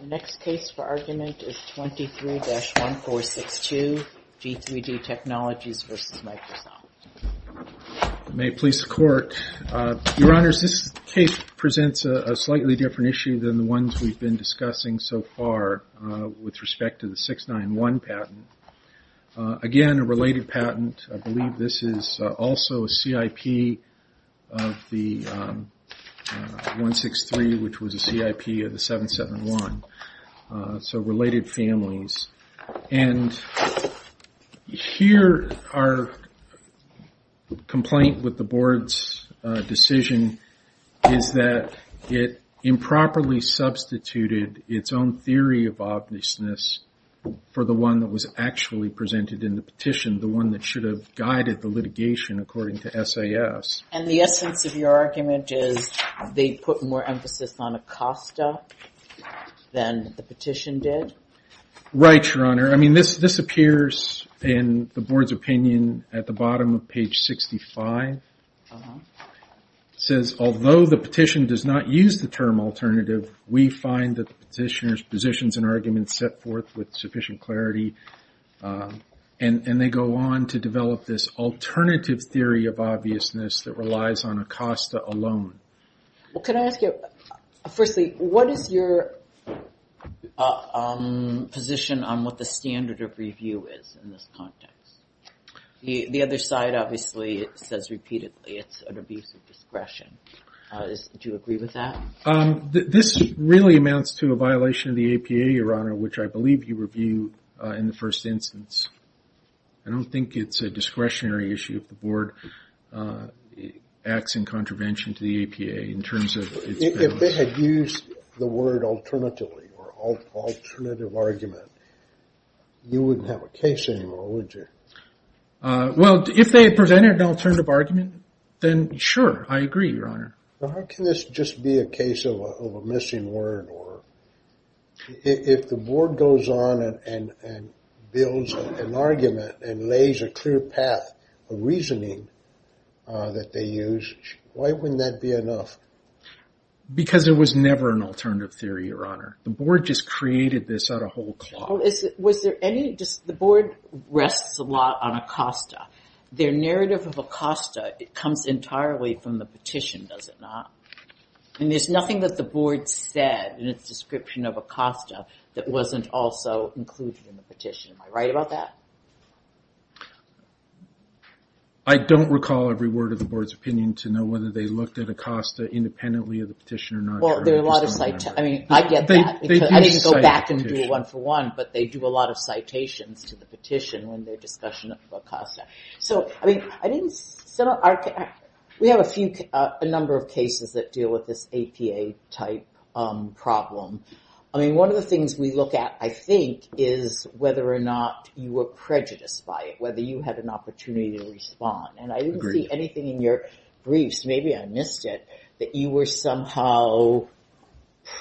The next case for argument is 23-1462, G3D Technologies v. Microsoft. May it please the Court. Your Honors, this case presents a slightly different issue than the ones we've been discussing so far with respect to the 691 patent. Again, a related patent. I believe this is also a CIP of the 163, which was a CIP of the 771. So, related families. And here our complaint with the Board's decision is that it improperly substituted its own theory of obviousness for the one that was actually presented in the petition. The one that should have guided the litigation according to SAS. And the essence of your argument is they put more emphasis on ACOSTA than the petition did? Right, Your Honor. I mean, this appears in the Board's opinion at the bottom of page 65. It says, although the petition does not use the term alternative, we find that the petitioner's positions and arguments set forth with sufficient clarity. And they go on to develop this alternative theory of obviousness that relies on ACOSTA alone. Well, can I ask you, firstly, what is your position on what the standard of review is in this context? The other side, obviously, says repeatedly it's an abuse of discretion. Do you agree with that? This really amounts to a violation of the APA, Your Honor, which I believe you reviewed in the first instance. I don't think it's a discretionary issue if the Board acts in contravention to the APA in terms of its balance. If they had used the word alternatively or alternative argument, you wouldn't have a case anymore, would you? Well, if they had presented an alternative argument, then sure, I agree, Your Honor. How can this just be a case of a missing word? If the Board goes on and builds an argument and lays a clear path of reasoning that they use, why wouldn't that be enough? Because there was never an alternative theory, Your Honor. The Board just created this out of whole cloth. The Board rests a lot on ACOSTA. Their narrative of ACOSTA comes entirely from the petition, does it not? And there's nothing that the Board said in its description of ACOSTA that wasn't also included in the petition. Am I right about that? I don't recall every word of the Board's opinion to know whether they looked at ACOSTA independently of the petition or not. I get that. I need to go back and do a one-for-one, but they do a lot of citations to the petition when they're discussing ACOSTA. We have a number of cases that deal with this APA-type problem. One of the things we look at, I think, is whether or not you were prejudiced by it, whether you had an opportunity to respond. And I didn't see anything in your briefs, maybe I missed it, that you were somehow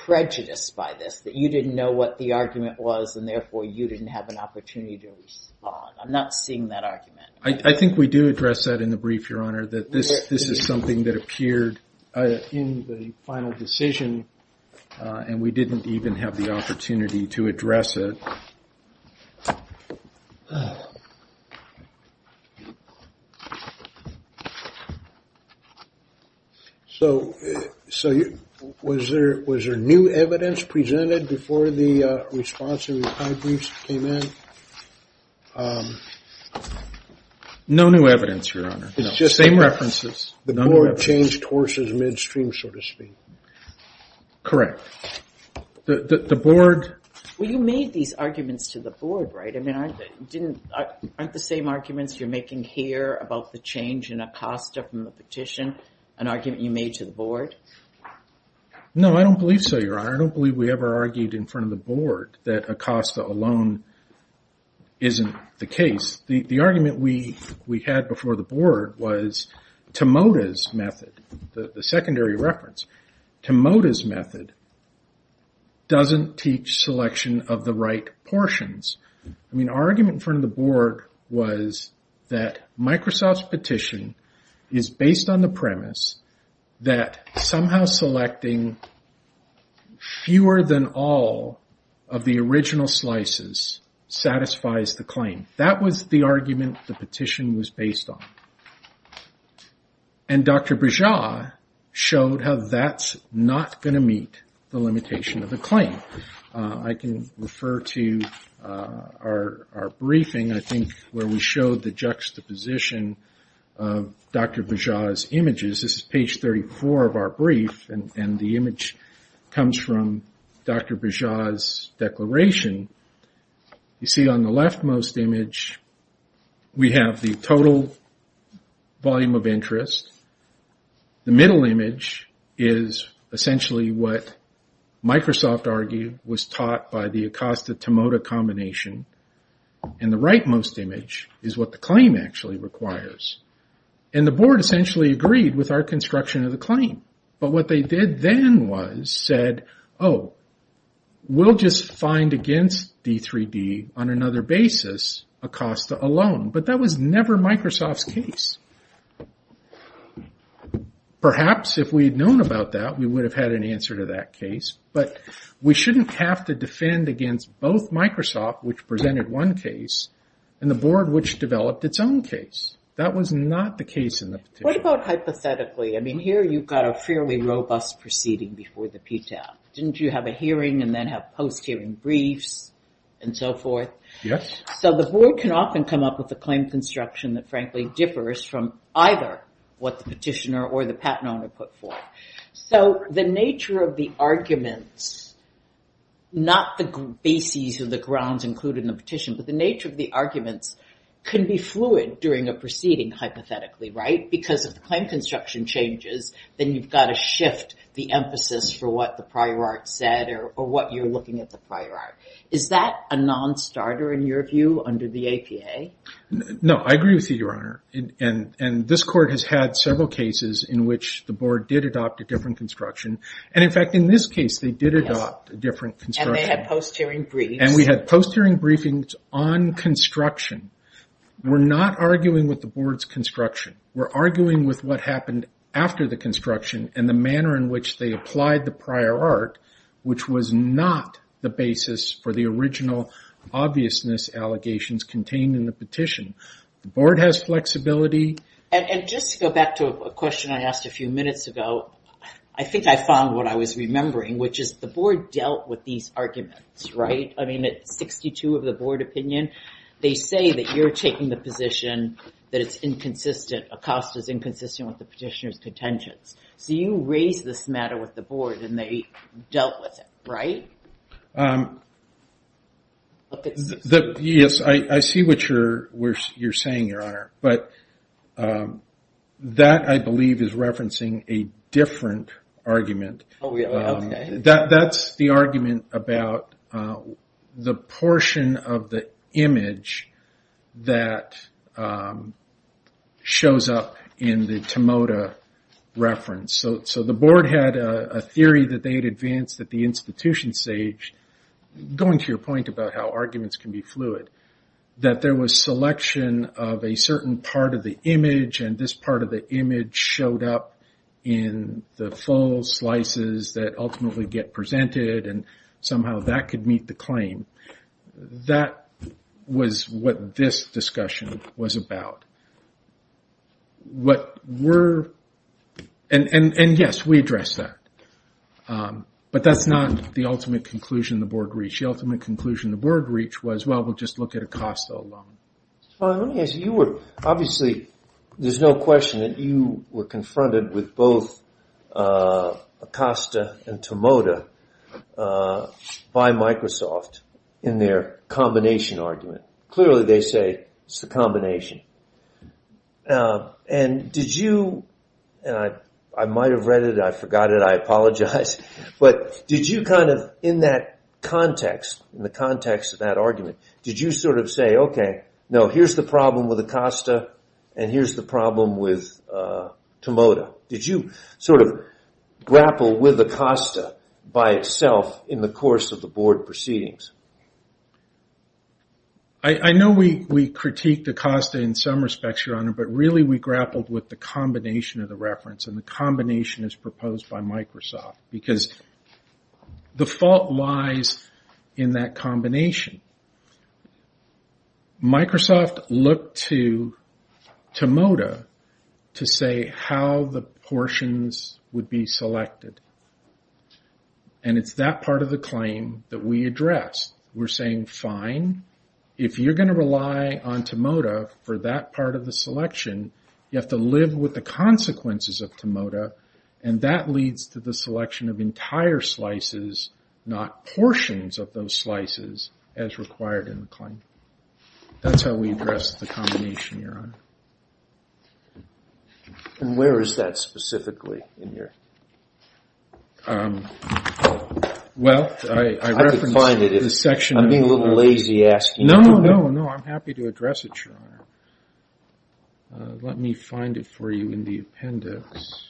prejudiced by this, that you didn't know what the argument was, and therefore you didn't have an opportunity to respond. I'm not seeing that argument. I think we do address that in the brief, Your Honor, that this is something that appeared in the final decision, and we didn't even have the opportunity to address it. So, was there new evidence presented before the response and reply briefs came in? No new evidence, Your Honor. It's just the same references. The Board changed horses midstream, so to speak. Correct. The Board... Well, you made these arguments to the Board, right? I mean, aren't the same arguments you're making here about the change in ACOSTA from the petition an argument you made to the Board? No, I don't believe so, Your Honor. I don't believe we ever argued in front of the Board that ACOSTA alone isn't the case. The argument we had before the Board was Timota's method, the secondary reference. Timota's method doesn't teach selection of the right portions. I mean, our argument in front of the Board was that Microsoft's petition is based on the premise that somehow selecting fewer than all of the original slices satisfies the claim. That was the argument the petition was based on. And Dr. Bajaj showed how that's not going to meet the limitation of the claim. I can refer to our briefing, I think, where we showed the juxtaposition of Dr. Bajaj's images. This is page 34 of our brief, and the image comes from Dr. Bajaj's declaration. You see on the leftmost image, we have the total volume of interest. The middle image is essentially what Microsoft argued was taught by the ACOSTA-Timota combination. And the rightmost image is what the claim actually requires. And the Board essentially agreed with our construction of the claim. And so we could have referenced D3D on another basis, ACOSTA alone. But that was never Microsoft's case. Perhaps if we had known about that, we would have had an answer to that case. But we shouldn't have to defend against both Microsoft, which presented one case, and the Board, which developed its own case. That was not the case in the petition. What about hypothetically? I mean, here you've got a fairly robust proceeding before the PTAP. Didn't you have a hearing, and then have post-hearing briefs, and so forth? So the Board can often come up with a claim construction that frankly differs from either what the petitioner or the patent owner put forth. So the nature of the arguments, not the bases or the grounds included in the petition, but the nature of the arguments can be fluid during a proceeding hypothetically, right? Because if the claim construction changes, then you've got to shift the emphasis for what the prior art said or what you're looking at the prior art. Is that a non-starter in your view under the APA? No, I agree with you, Your Honor, and this Court has had several cases in which the Board did adopt a different construction. And in fact, in this case, they did adopt a different construction. And they had post-hearing briefs. And we had post-hearing briefings on construction. We're not arguing with the Board's construction. We're arguing with what happened after the construction and the manner in which they applied the prior art, which was not the basis for the original obviousness allegations contained in the petition. The Board has flexibility. And just to go back to a question I asked a few minutes ago, I think I found what I was remembering, which is the Board dealt with these arguments, right? I mean, at 62 of the Board opinion, they say that you're taking the position that it's inconsistent, ACOSTA's inconsistent with the petitioner's contentions. So you raised this matter with the Board and they dealt with it, right? Yes, I see what you're saying, Your Honor. But that, I believe, is referencing a different argument. Oh, really? Okay. That's the argument about the portion of the image that shows up in the Tomoda reference. So the Board had a theory that they had advanced at the institution stage, going to your point about how arguments can be fluid, that there was selection of a certain part of the image and this part of the image showed up in the full slices that ultimately get presented and that was what this discussion was about. And yes, we addressed that. But that's not the ultimate conclusion the Board reached. The ultimate conclusion the Board reached was, well, we'll just look at ACOSTA alone. Let me ask you, obviously, there's no question that you were confronted with both ACOSTA and Tomoda by Microsoft in their combination argument. Clearly they say it's the combination. And did you, I might have read it, I forgot it, I apologize, but did you kind of, in that context, in the context of that argument, did you sort of say, okay, no, here's the problem with ACOSTA and here's the problem with Tomoda. Did you sort of grapple with ACOSTA by itself in the course of the Board proceedings? I know we critiqued ACOSTA in some respects, your honor, but really we grappled with the combination of the reference and the combination as proposed by Microsoft because the fault lies in that combination. Microsoft looked to Tomoda to say how the portions would be selected. And it's that part of the claim that we addressed. We're saying, fine, if you're going to rely on Tomoda for that part of the selection, you have to live with the consequences of Tomoda. And that leads to the selection of entire slices, not portions of those slices as required in the claim. That's how we addressed the combination, your honor. And where is that specifically in your... Well, I referenced the section... I'm being a little lazy asking you. No, no, no. I'm happy to address it, your honor. Let me find it for you in the appendix.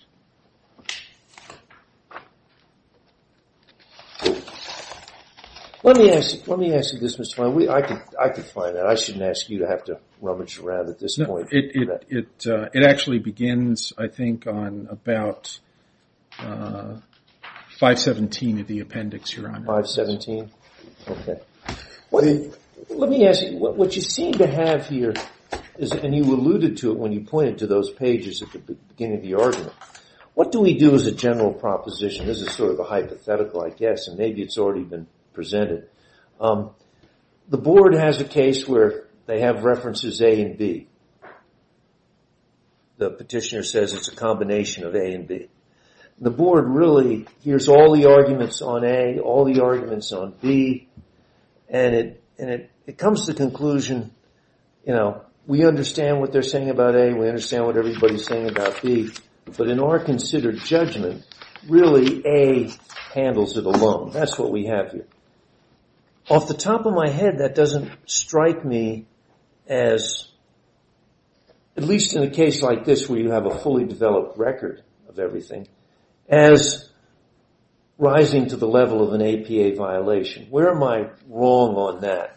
Let me ask you this, Mr. Fine. I can find that. I shouldn't ask you to have to rummage around at this point. It actually begins, I think, on about 517 of the appendix, your honor. 517? Let me ask you, what you seem to have here, and you alluded to it when you pointed to those pages at the beginning of the argument, what do we do as a general proposition? This is sort of a hypothetical, I guess. And maybe it's already been presented. The board has a case where they have references A and B. The petitioner says it's a combination of A and B. The board really hears all the arguments on A, all the arguments on B, and it comes to the conclusion, you know, we understand what they're saying about A, we understand what everybody's saying about B, but in our considered judgment, really A handles it alone. That's what we have here. Off the top of my head, that doesn't strike me as, at least in a case like this where you have a fully developed record of everything, as rising to the level of an APA violation. Where am I wrong on that?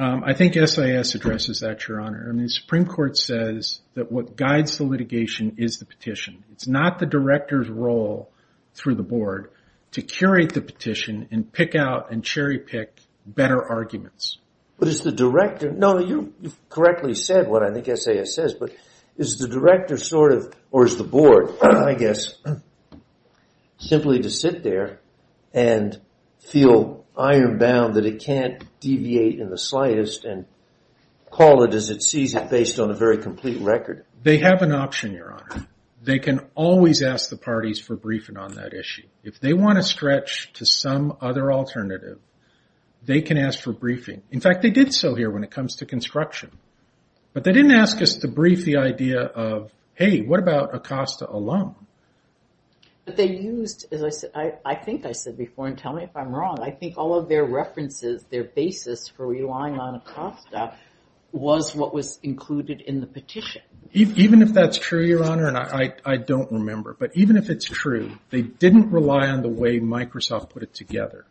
I think SIS addresses that, your honor. The Supreme Court says that what guides the litigation is the petition. It's not the director's role through the board to curate the petition and pick out and cherry pick better arguments. But is the director, no, you've correctly said what I think SIS says, but is the director sort of, or is the board, I guess, simply to sit there and feel iron bound that it can't deviate in the slightest and call it as it sees it based on a very complete record? They have an option, your honor. They can always ask the parties for briefing on that issue. If they want to stretch to some other alternative, they can ask for briefing. In fact, they did so here when it comes to construction. But they didn't ask us to brief the idea of, hey, what about Acosta alum? But they used, I think I said before, and tell me if I'm wrong, I think all of their references, their basis for relying on Acosta was what was included in the petition. Even if that's true, your honor, and I don't remember, but even if it's true, they didn't rely on the way Microsoft put it together.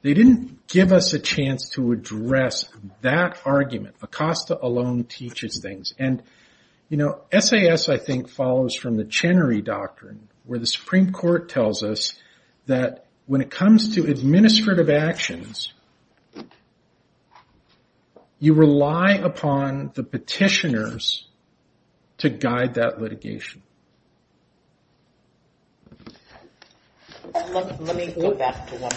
They didn't give us a chance to address that argument. Acosta alone teaches things. And SAS, I think, follows from the Chenery Doctrine, where the Supreme Court tells us that when it comes to administrative actions, you rely upon the petitioners to guide that litigation. Let me go back to one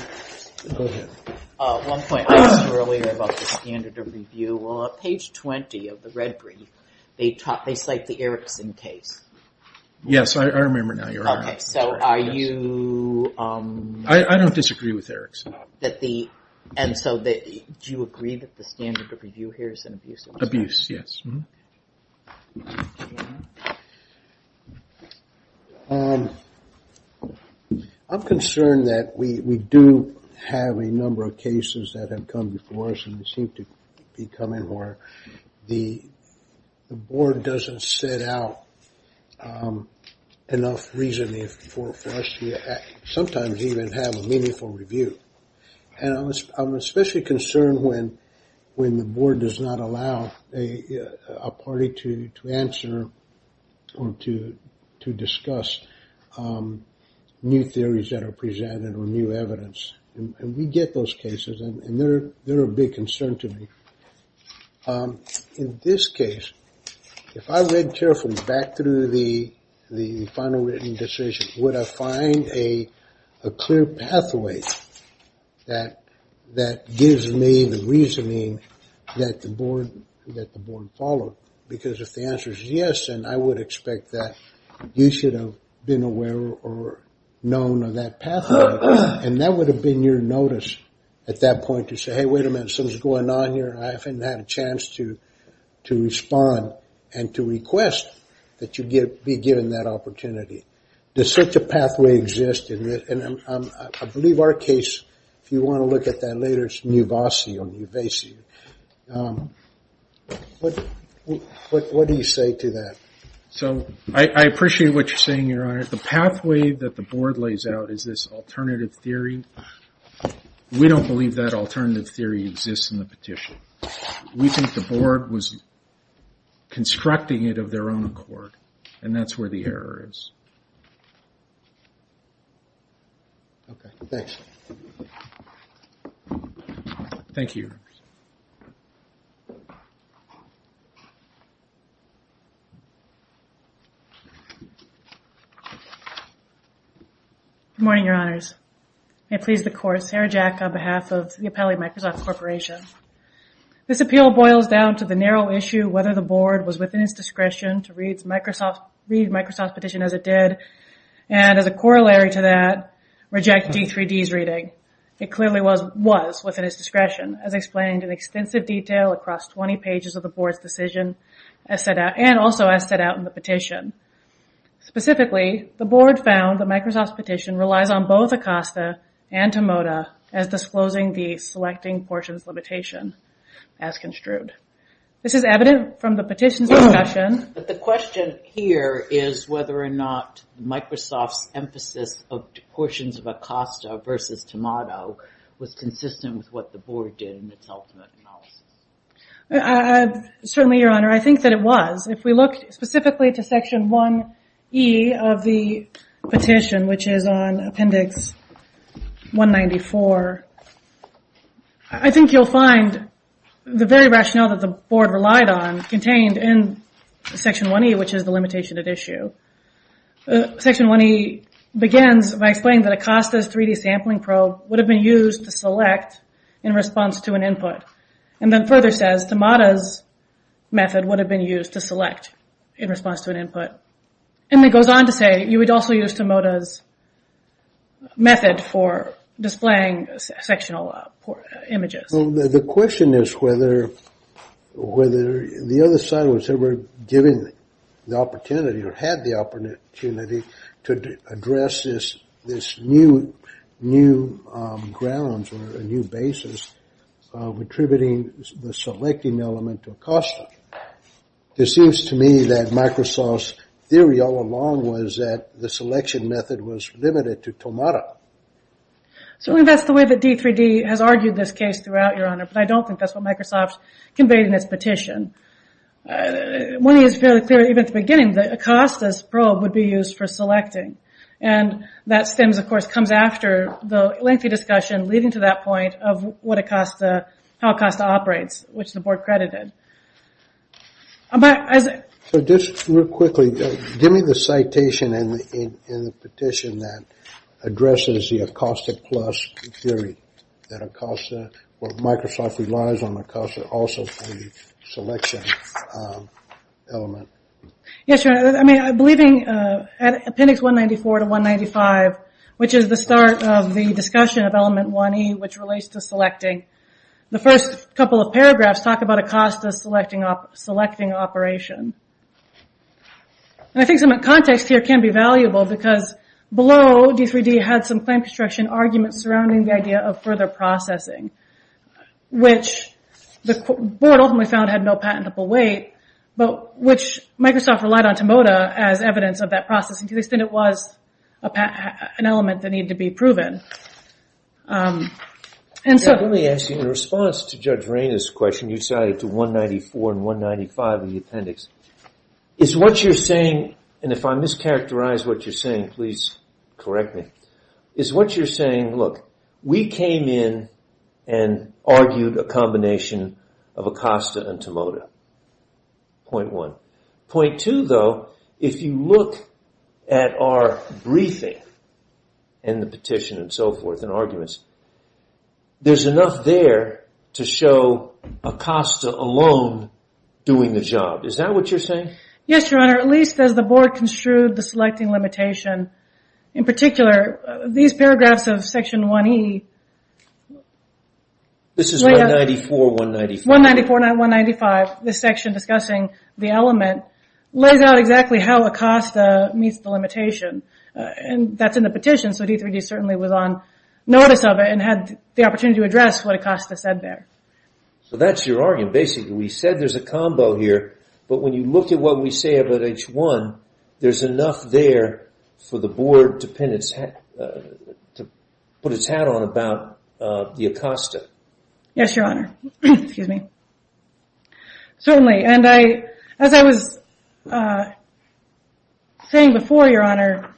point. I asked earlier about the standard of review. On page 20 of the red brief, they cite the Erickson case. I don't disagree with Erickson. And so do you agree that the standard of review here is an abuse? Abuse, yes. I'm concerned that we do have a number of cases that have come before us and seem to be coming where the board doesn't set out enough reasoning for us to sometimes even have a meaningful review. I'm especially concerned when the board does not allow a party to answer or to discuss new theories that are presented or new evidence. And we get those cases, and they're a big concern to me. In this case, if I read carefully back through the final written decision, would I find a clear pathway that gives me the reasoning that the board followed? Because if the answer is yes, then I would expect that you should have been aware or known of that pathway. And that would have been your notice at that point to say, hey, wait a minute, something's going on here. I haven't had a chance to respond and to request that you be given that opportunity. Does such a pathway exist? And I believe our case, if you want to look at that later, it's Nuvasi. What do you say to that? So I appreciate what you're saying, Your Honor. The pathway that the board lays out is this alternative theory. We don't believe that alternative theory exists in the petition. We think the board was constructing it of their own accord, and that's where the error is. Okay, thanks. Thank you. Good morning, Your Honors. May it please the Court, Sarah Jack on behalf of the Appellee Microsoft Corporation. This appeal boils down to the narrow issue whether the board was within its discretion to read Microsoft's petition as it did, and as a corollary to that, reject D3D's reading. It clearly was within its discretion, as explained in extensive detail across 20 pages of the board's decision, and also as set out in the petition. Specifically, the board found that Microsoft's petition relies on both Acosta and Tomoda as disclosing the selecting portions limitation as construed. This is evident from the petition's discussion. But the question here is whether or not Microsoft's emphasis of portions of Acosta versus Tomoda was consistent with what the board did in its ultimate analysis. Certainly, Your Honor, I think that it was. If we look specifically to section 1E of the petition, which is on appendix 194, I think you'll find the very rationale that the board relied on contained in section 1E, which is the limitation at issue. Section 1E begins by explaining that Acosta's 3D sampling probe would have been used to select in response to an input, and then further says Tomoda's method for displaying sectional images. The question is whether the other side was ever given the opportunity or had the opportunity to address this new grounds or a new basis of attributing the selecting element to Acosta. It seems to me that Microsoft's theory all along was that the selection method was limited to Tomoda. So that's the way that D3D has argued this case throughout, Your Honor, but I don't think that's what Microsoft conveyed in its petition. 1E is fairly clear, even at the beginning, that Acosta's probe would be used for selecting. That stems, of course, comes after the lengthy discussion leading to that point of how Acosta operates, which the board credited. Just real quickly, give me the citation in the petition that addresses the Acosta Plus theory, that Microsoft relies on Acosta also for the selection element. Yes, Your Honor. I'm believing Appendix 194 to 195, which is the start of the discussion of Element 1E, which relates to selecting. The first couple of paragraphs talk about Acosta's selecting operation. I think some context here can be valuable because below, D3D had some claim construction arguments surrounding the idea of further processing, which the board ultimately found had no patentable weight, but which Microsoft relied on Tomoda as evidence of that processing to the extent it was an element that needed to be proven. Let me ask you, in response to Judge Rainer's question, you cited 194 and 195 in the appendix, is what you're saying, and if I mischaracterize what you're saying, please correct me, is what you're saying, look, we came in and argued a combination of Acosta and Tomoda, point one. Point two, though, if you look at our briefing and the petition and so forth and arguments, there's enough there to show Acosta alone doing the job. Is that what you're saying? Yes, Your Honor, at least as the board construed the selecting limitation. In particular, these paragraphs of Section 1E, 194, 195, this section discussing the element, lays out exactly how in the petition, so D3D certainly was on notice of it and had the opportunity to address what Acosta said there. So that's your argument. Basically, we said there's a combo here, but when you look at what we say about H1, there's enough there for the board to put its hat on about the Acosta. Yes, Your Honor. Certainly, and I as I was saying before, Your Honor,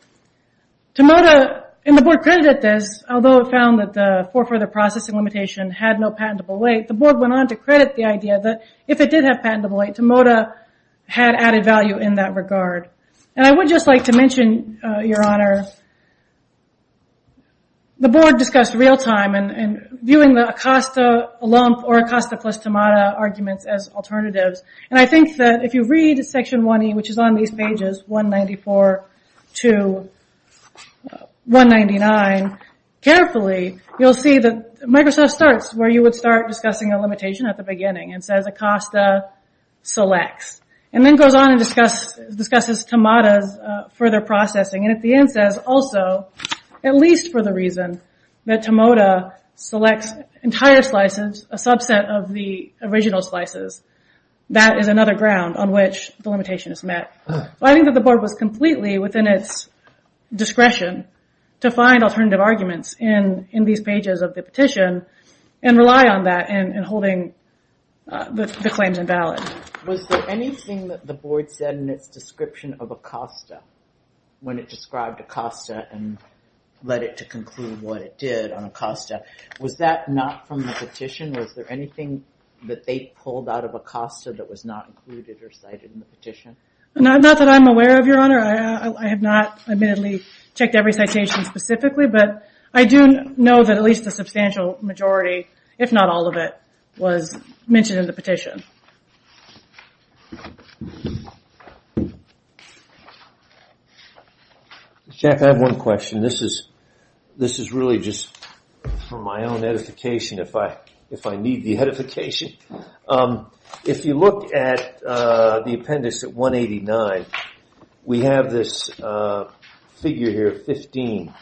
Tomoda and the board credited this, although it found that the fore further processing limitation had no patentable weight, the board went on to credit the idea that if it did have patentable weight, Tomoda had added value in that regard. And I would just like to mention, Your Honor, the board discussed real time and viewing the Acosta lump or Acosta plus Tomoda arguments as alternatives. And I think that if you read Section 1E, which is on these pages, 194 to 199 carefully, you'll see that Microsoft starts where you would start discussing a limitation at the beginning and says Acosta selects, and then goes on and discusses Tomoda's further processing. And at the end says also, at least for the reason that Tomoda selects entire slices, a subset of the original slices. That is another ground on which the limitation is met. I think that the board was completely within its discretion to find alternative arguments in these pages of the petition and rely on that in holding the claims invalid. Was there anything that the board said in its description of Acosta when it described Acosta and led it to conclude what it did on Acosta? Was that not from the petition? Was there anything that they pulled out of Acosta that was not included or cited in the petition? Not that I'm aware of, Your Honor. I have not admittedly checked every citation specifically, but I do know that at least a substantial majority, if not all of it, was mentioned in the petition. Jack, I have one question. This is really just for my own edification, if I need the edification. If you look at the appendix at 189, we have this figure here, 15.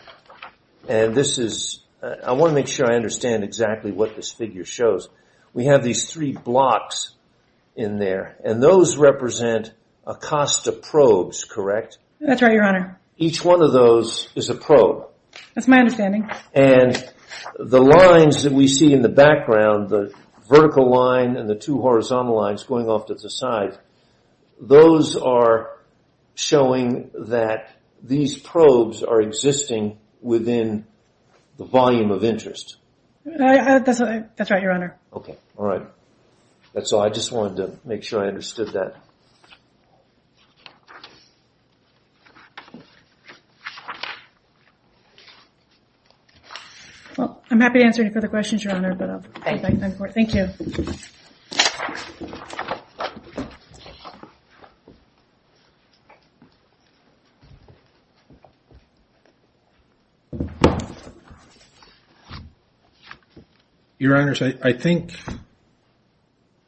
And this is, I want to make sure I understand exactly what this figure shows. We have these three blocks in there, and those represent Acosta probes, correct? That's right, Your Honor. Each one of those is a probe. That's my understanding. And the lines that we see in the background, the vertical line and the two horizontal lines going off to the side, those are showing that these probes are existing within the volume of interest. That's right, Your Honor. Okay. Alright. That's all. I just wanted to make sure I understood that. Well, I'm happy to answer any further questions, Your Honor. Thank you. Your Honors, I think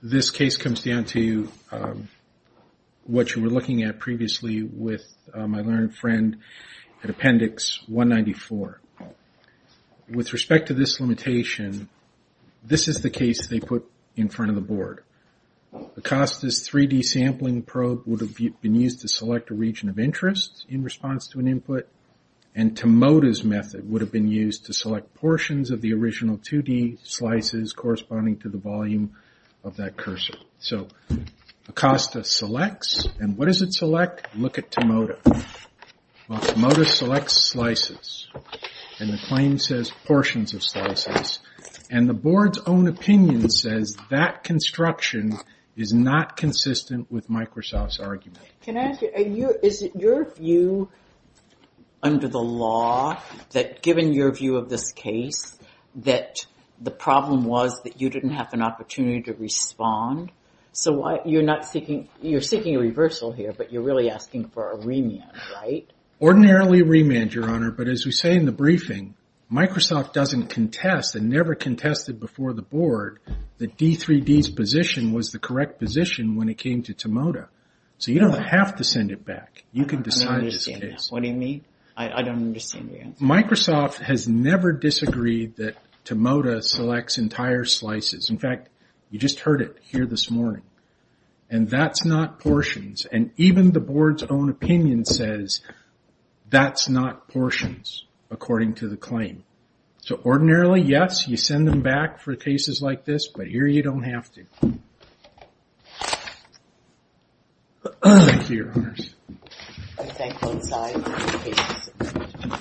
this case comes down to what you were looking at previously with my learned friend at appendix 194. With respect to this limitation, this is the case they put in front of the board. Acosta's 3D sampling probe would have been used to select a region of interest in response to an input, and Tomoda's method would have been used to select portions of the original 2D slices corresponding to the volume of that cursor. So Acosta selects, and what does it select? Look at Tomoda. Well, Tomoda selects slices. And the claim says portions of slices. And the board's own opinion says that construction is not consistent with Microsoft's argument. Can I ask you, is it your view under the law that given your view of this case that the problem was that you didn't have an opportunity to respond? So you're seeking a reversal here, but you're really asking for a remand, right? Ordinarily a remand, Your Honor, but as we say in the briefing, Microsoft doesn't contest and never contested before the board that D3D's position was the correct position when it came to Tomoda. So you don't have to send it back. You can decide this case. What do you mean? I don't understand your answer. Microsoft has never disagreed that Tomoda selects entire slices. In fact, you just heard it here this morning. And that's not portions. And even the board's own opinion says that's not portions according to the claim. So ordinarily, yes, you send them back for cases like this, but here you don't have to. Thank you, Your Honors.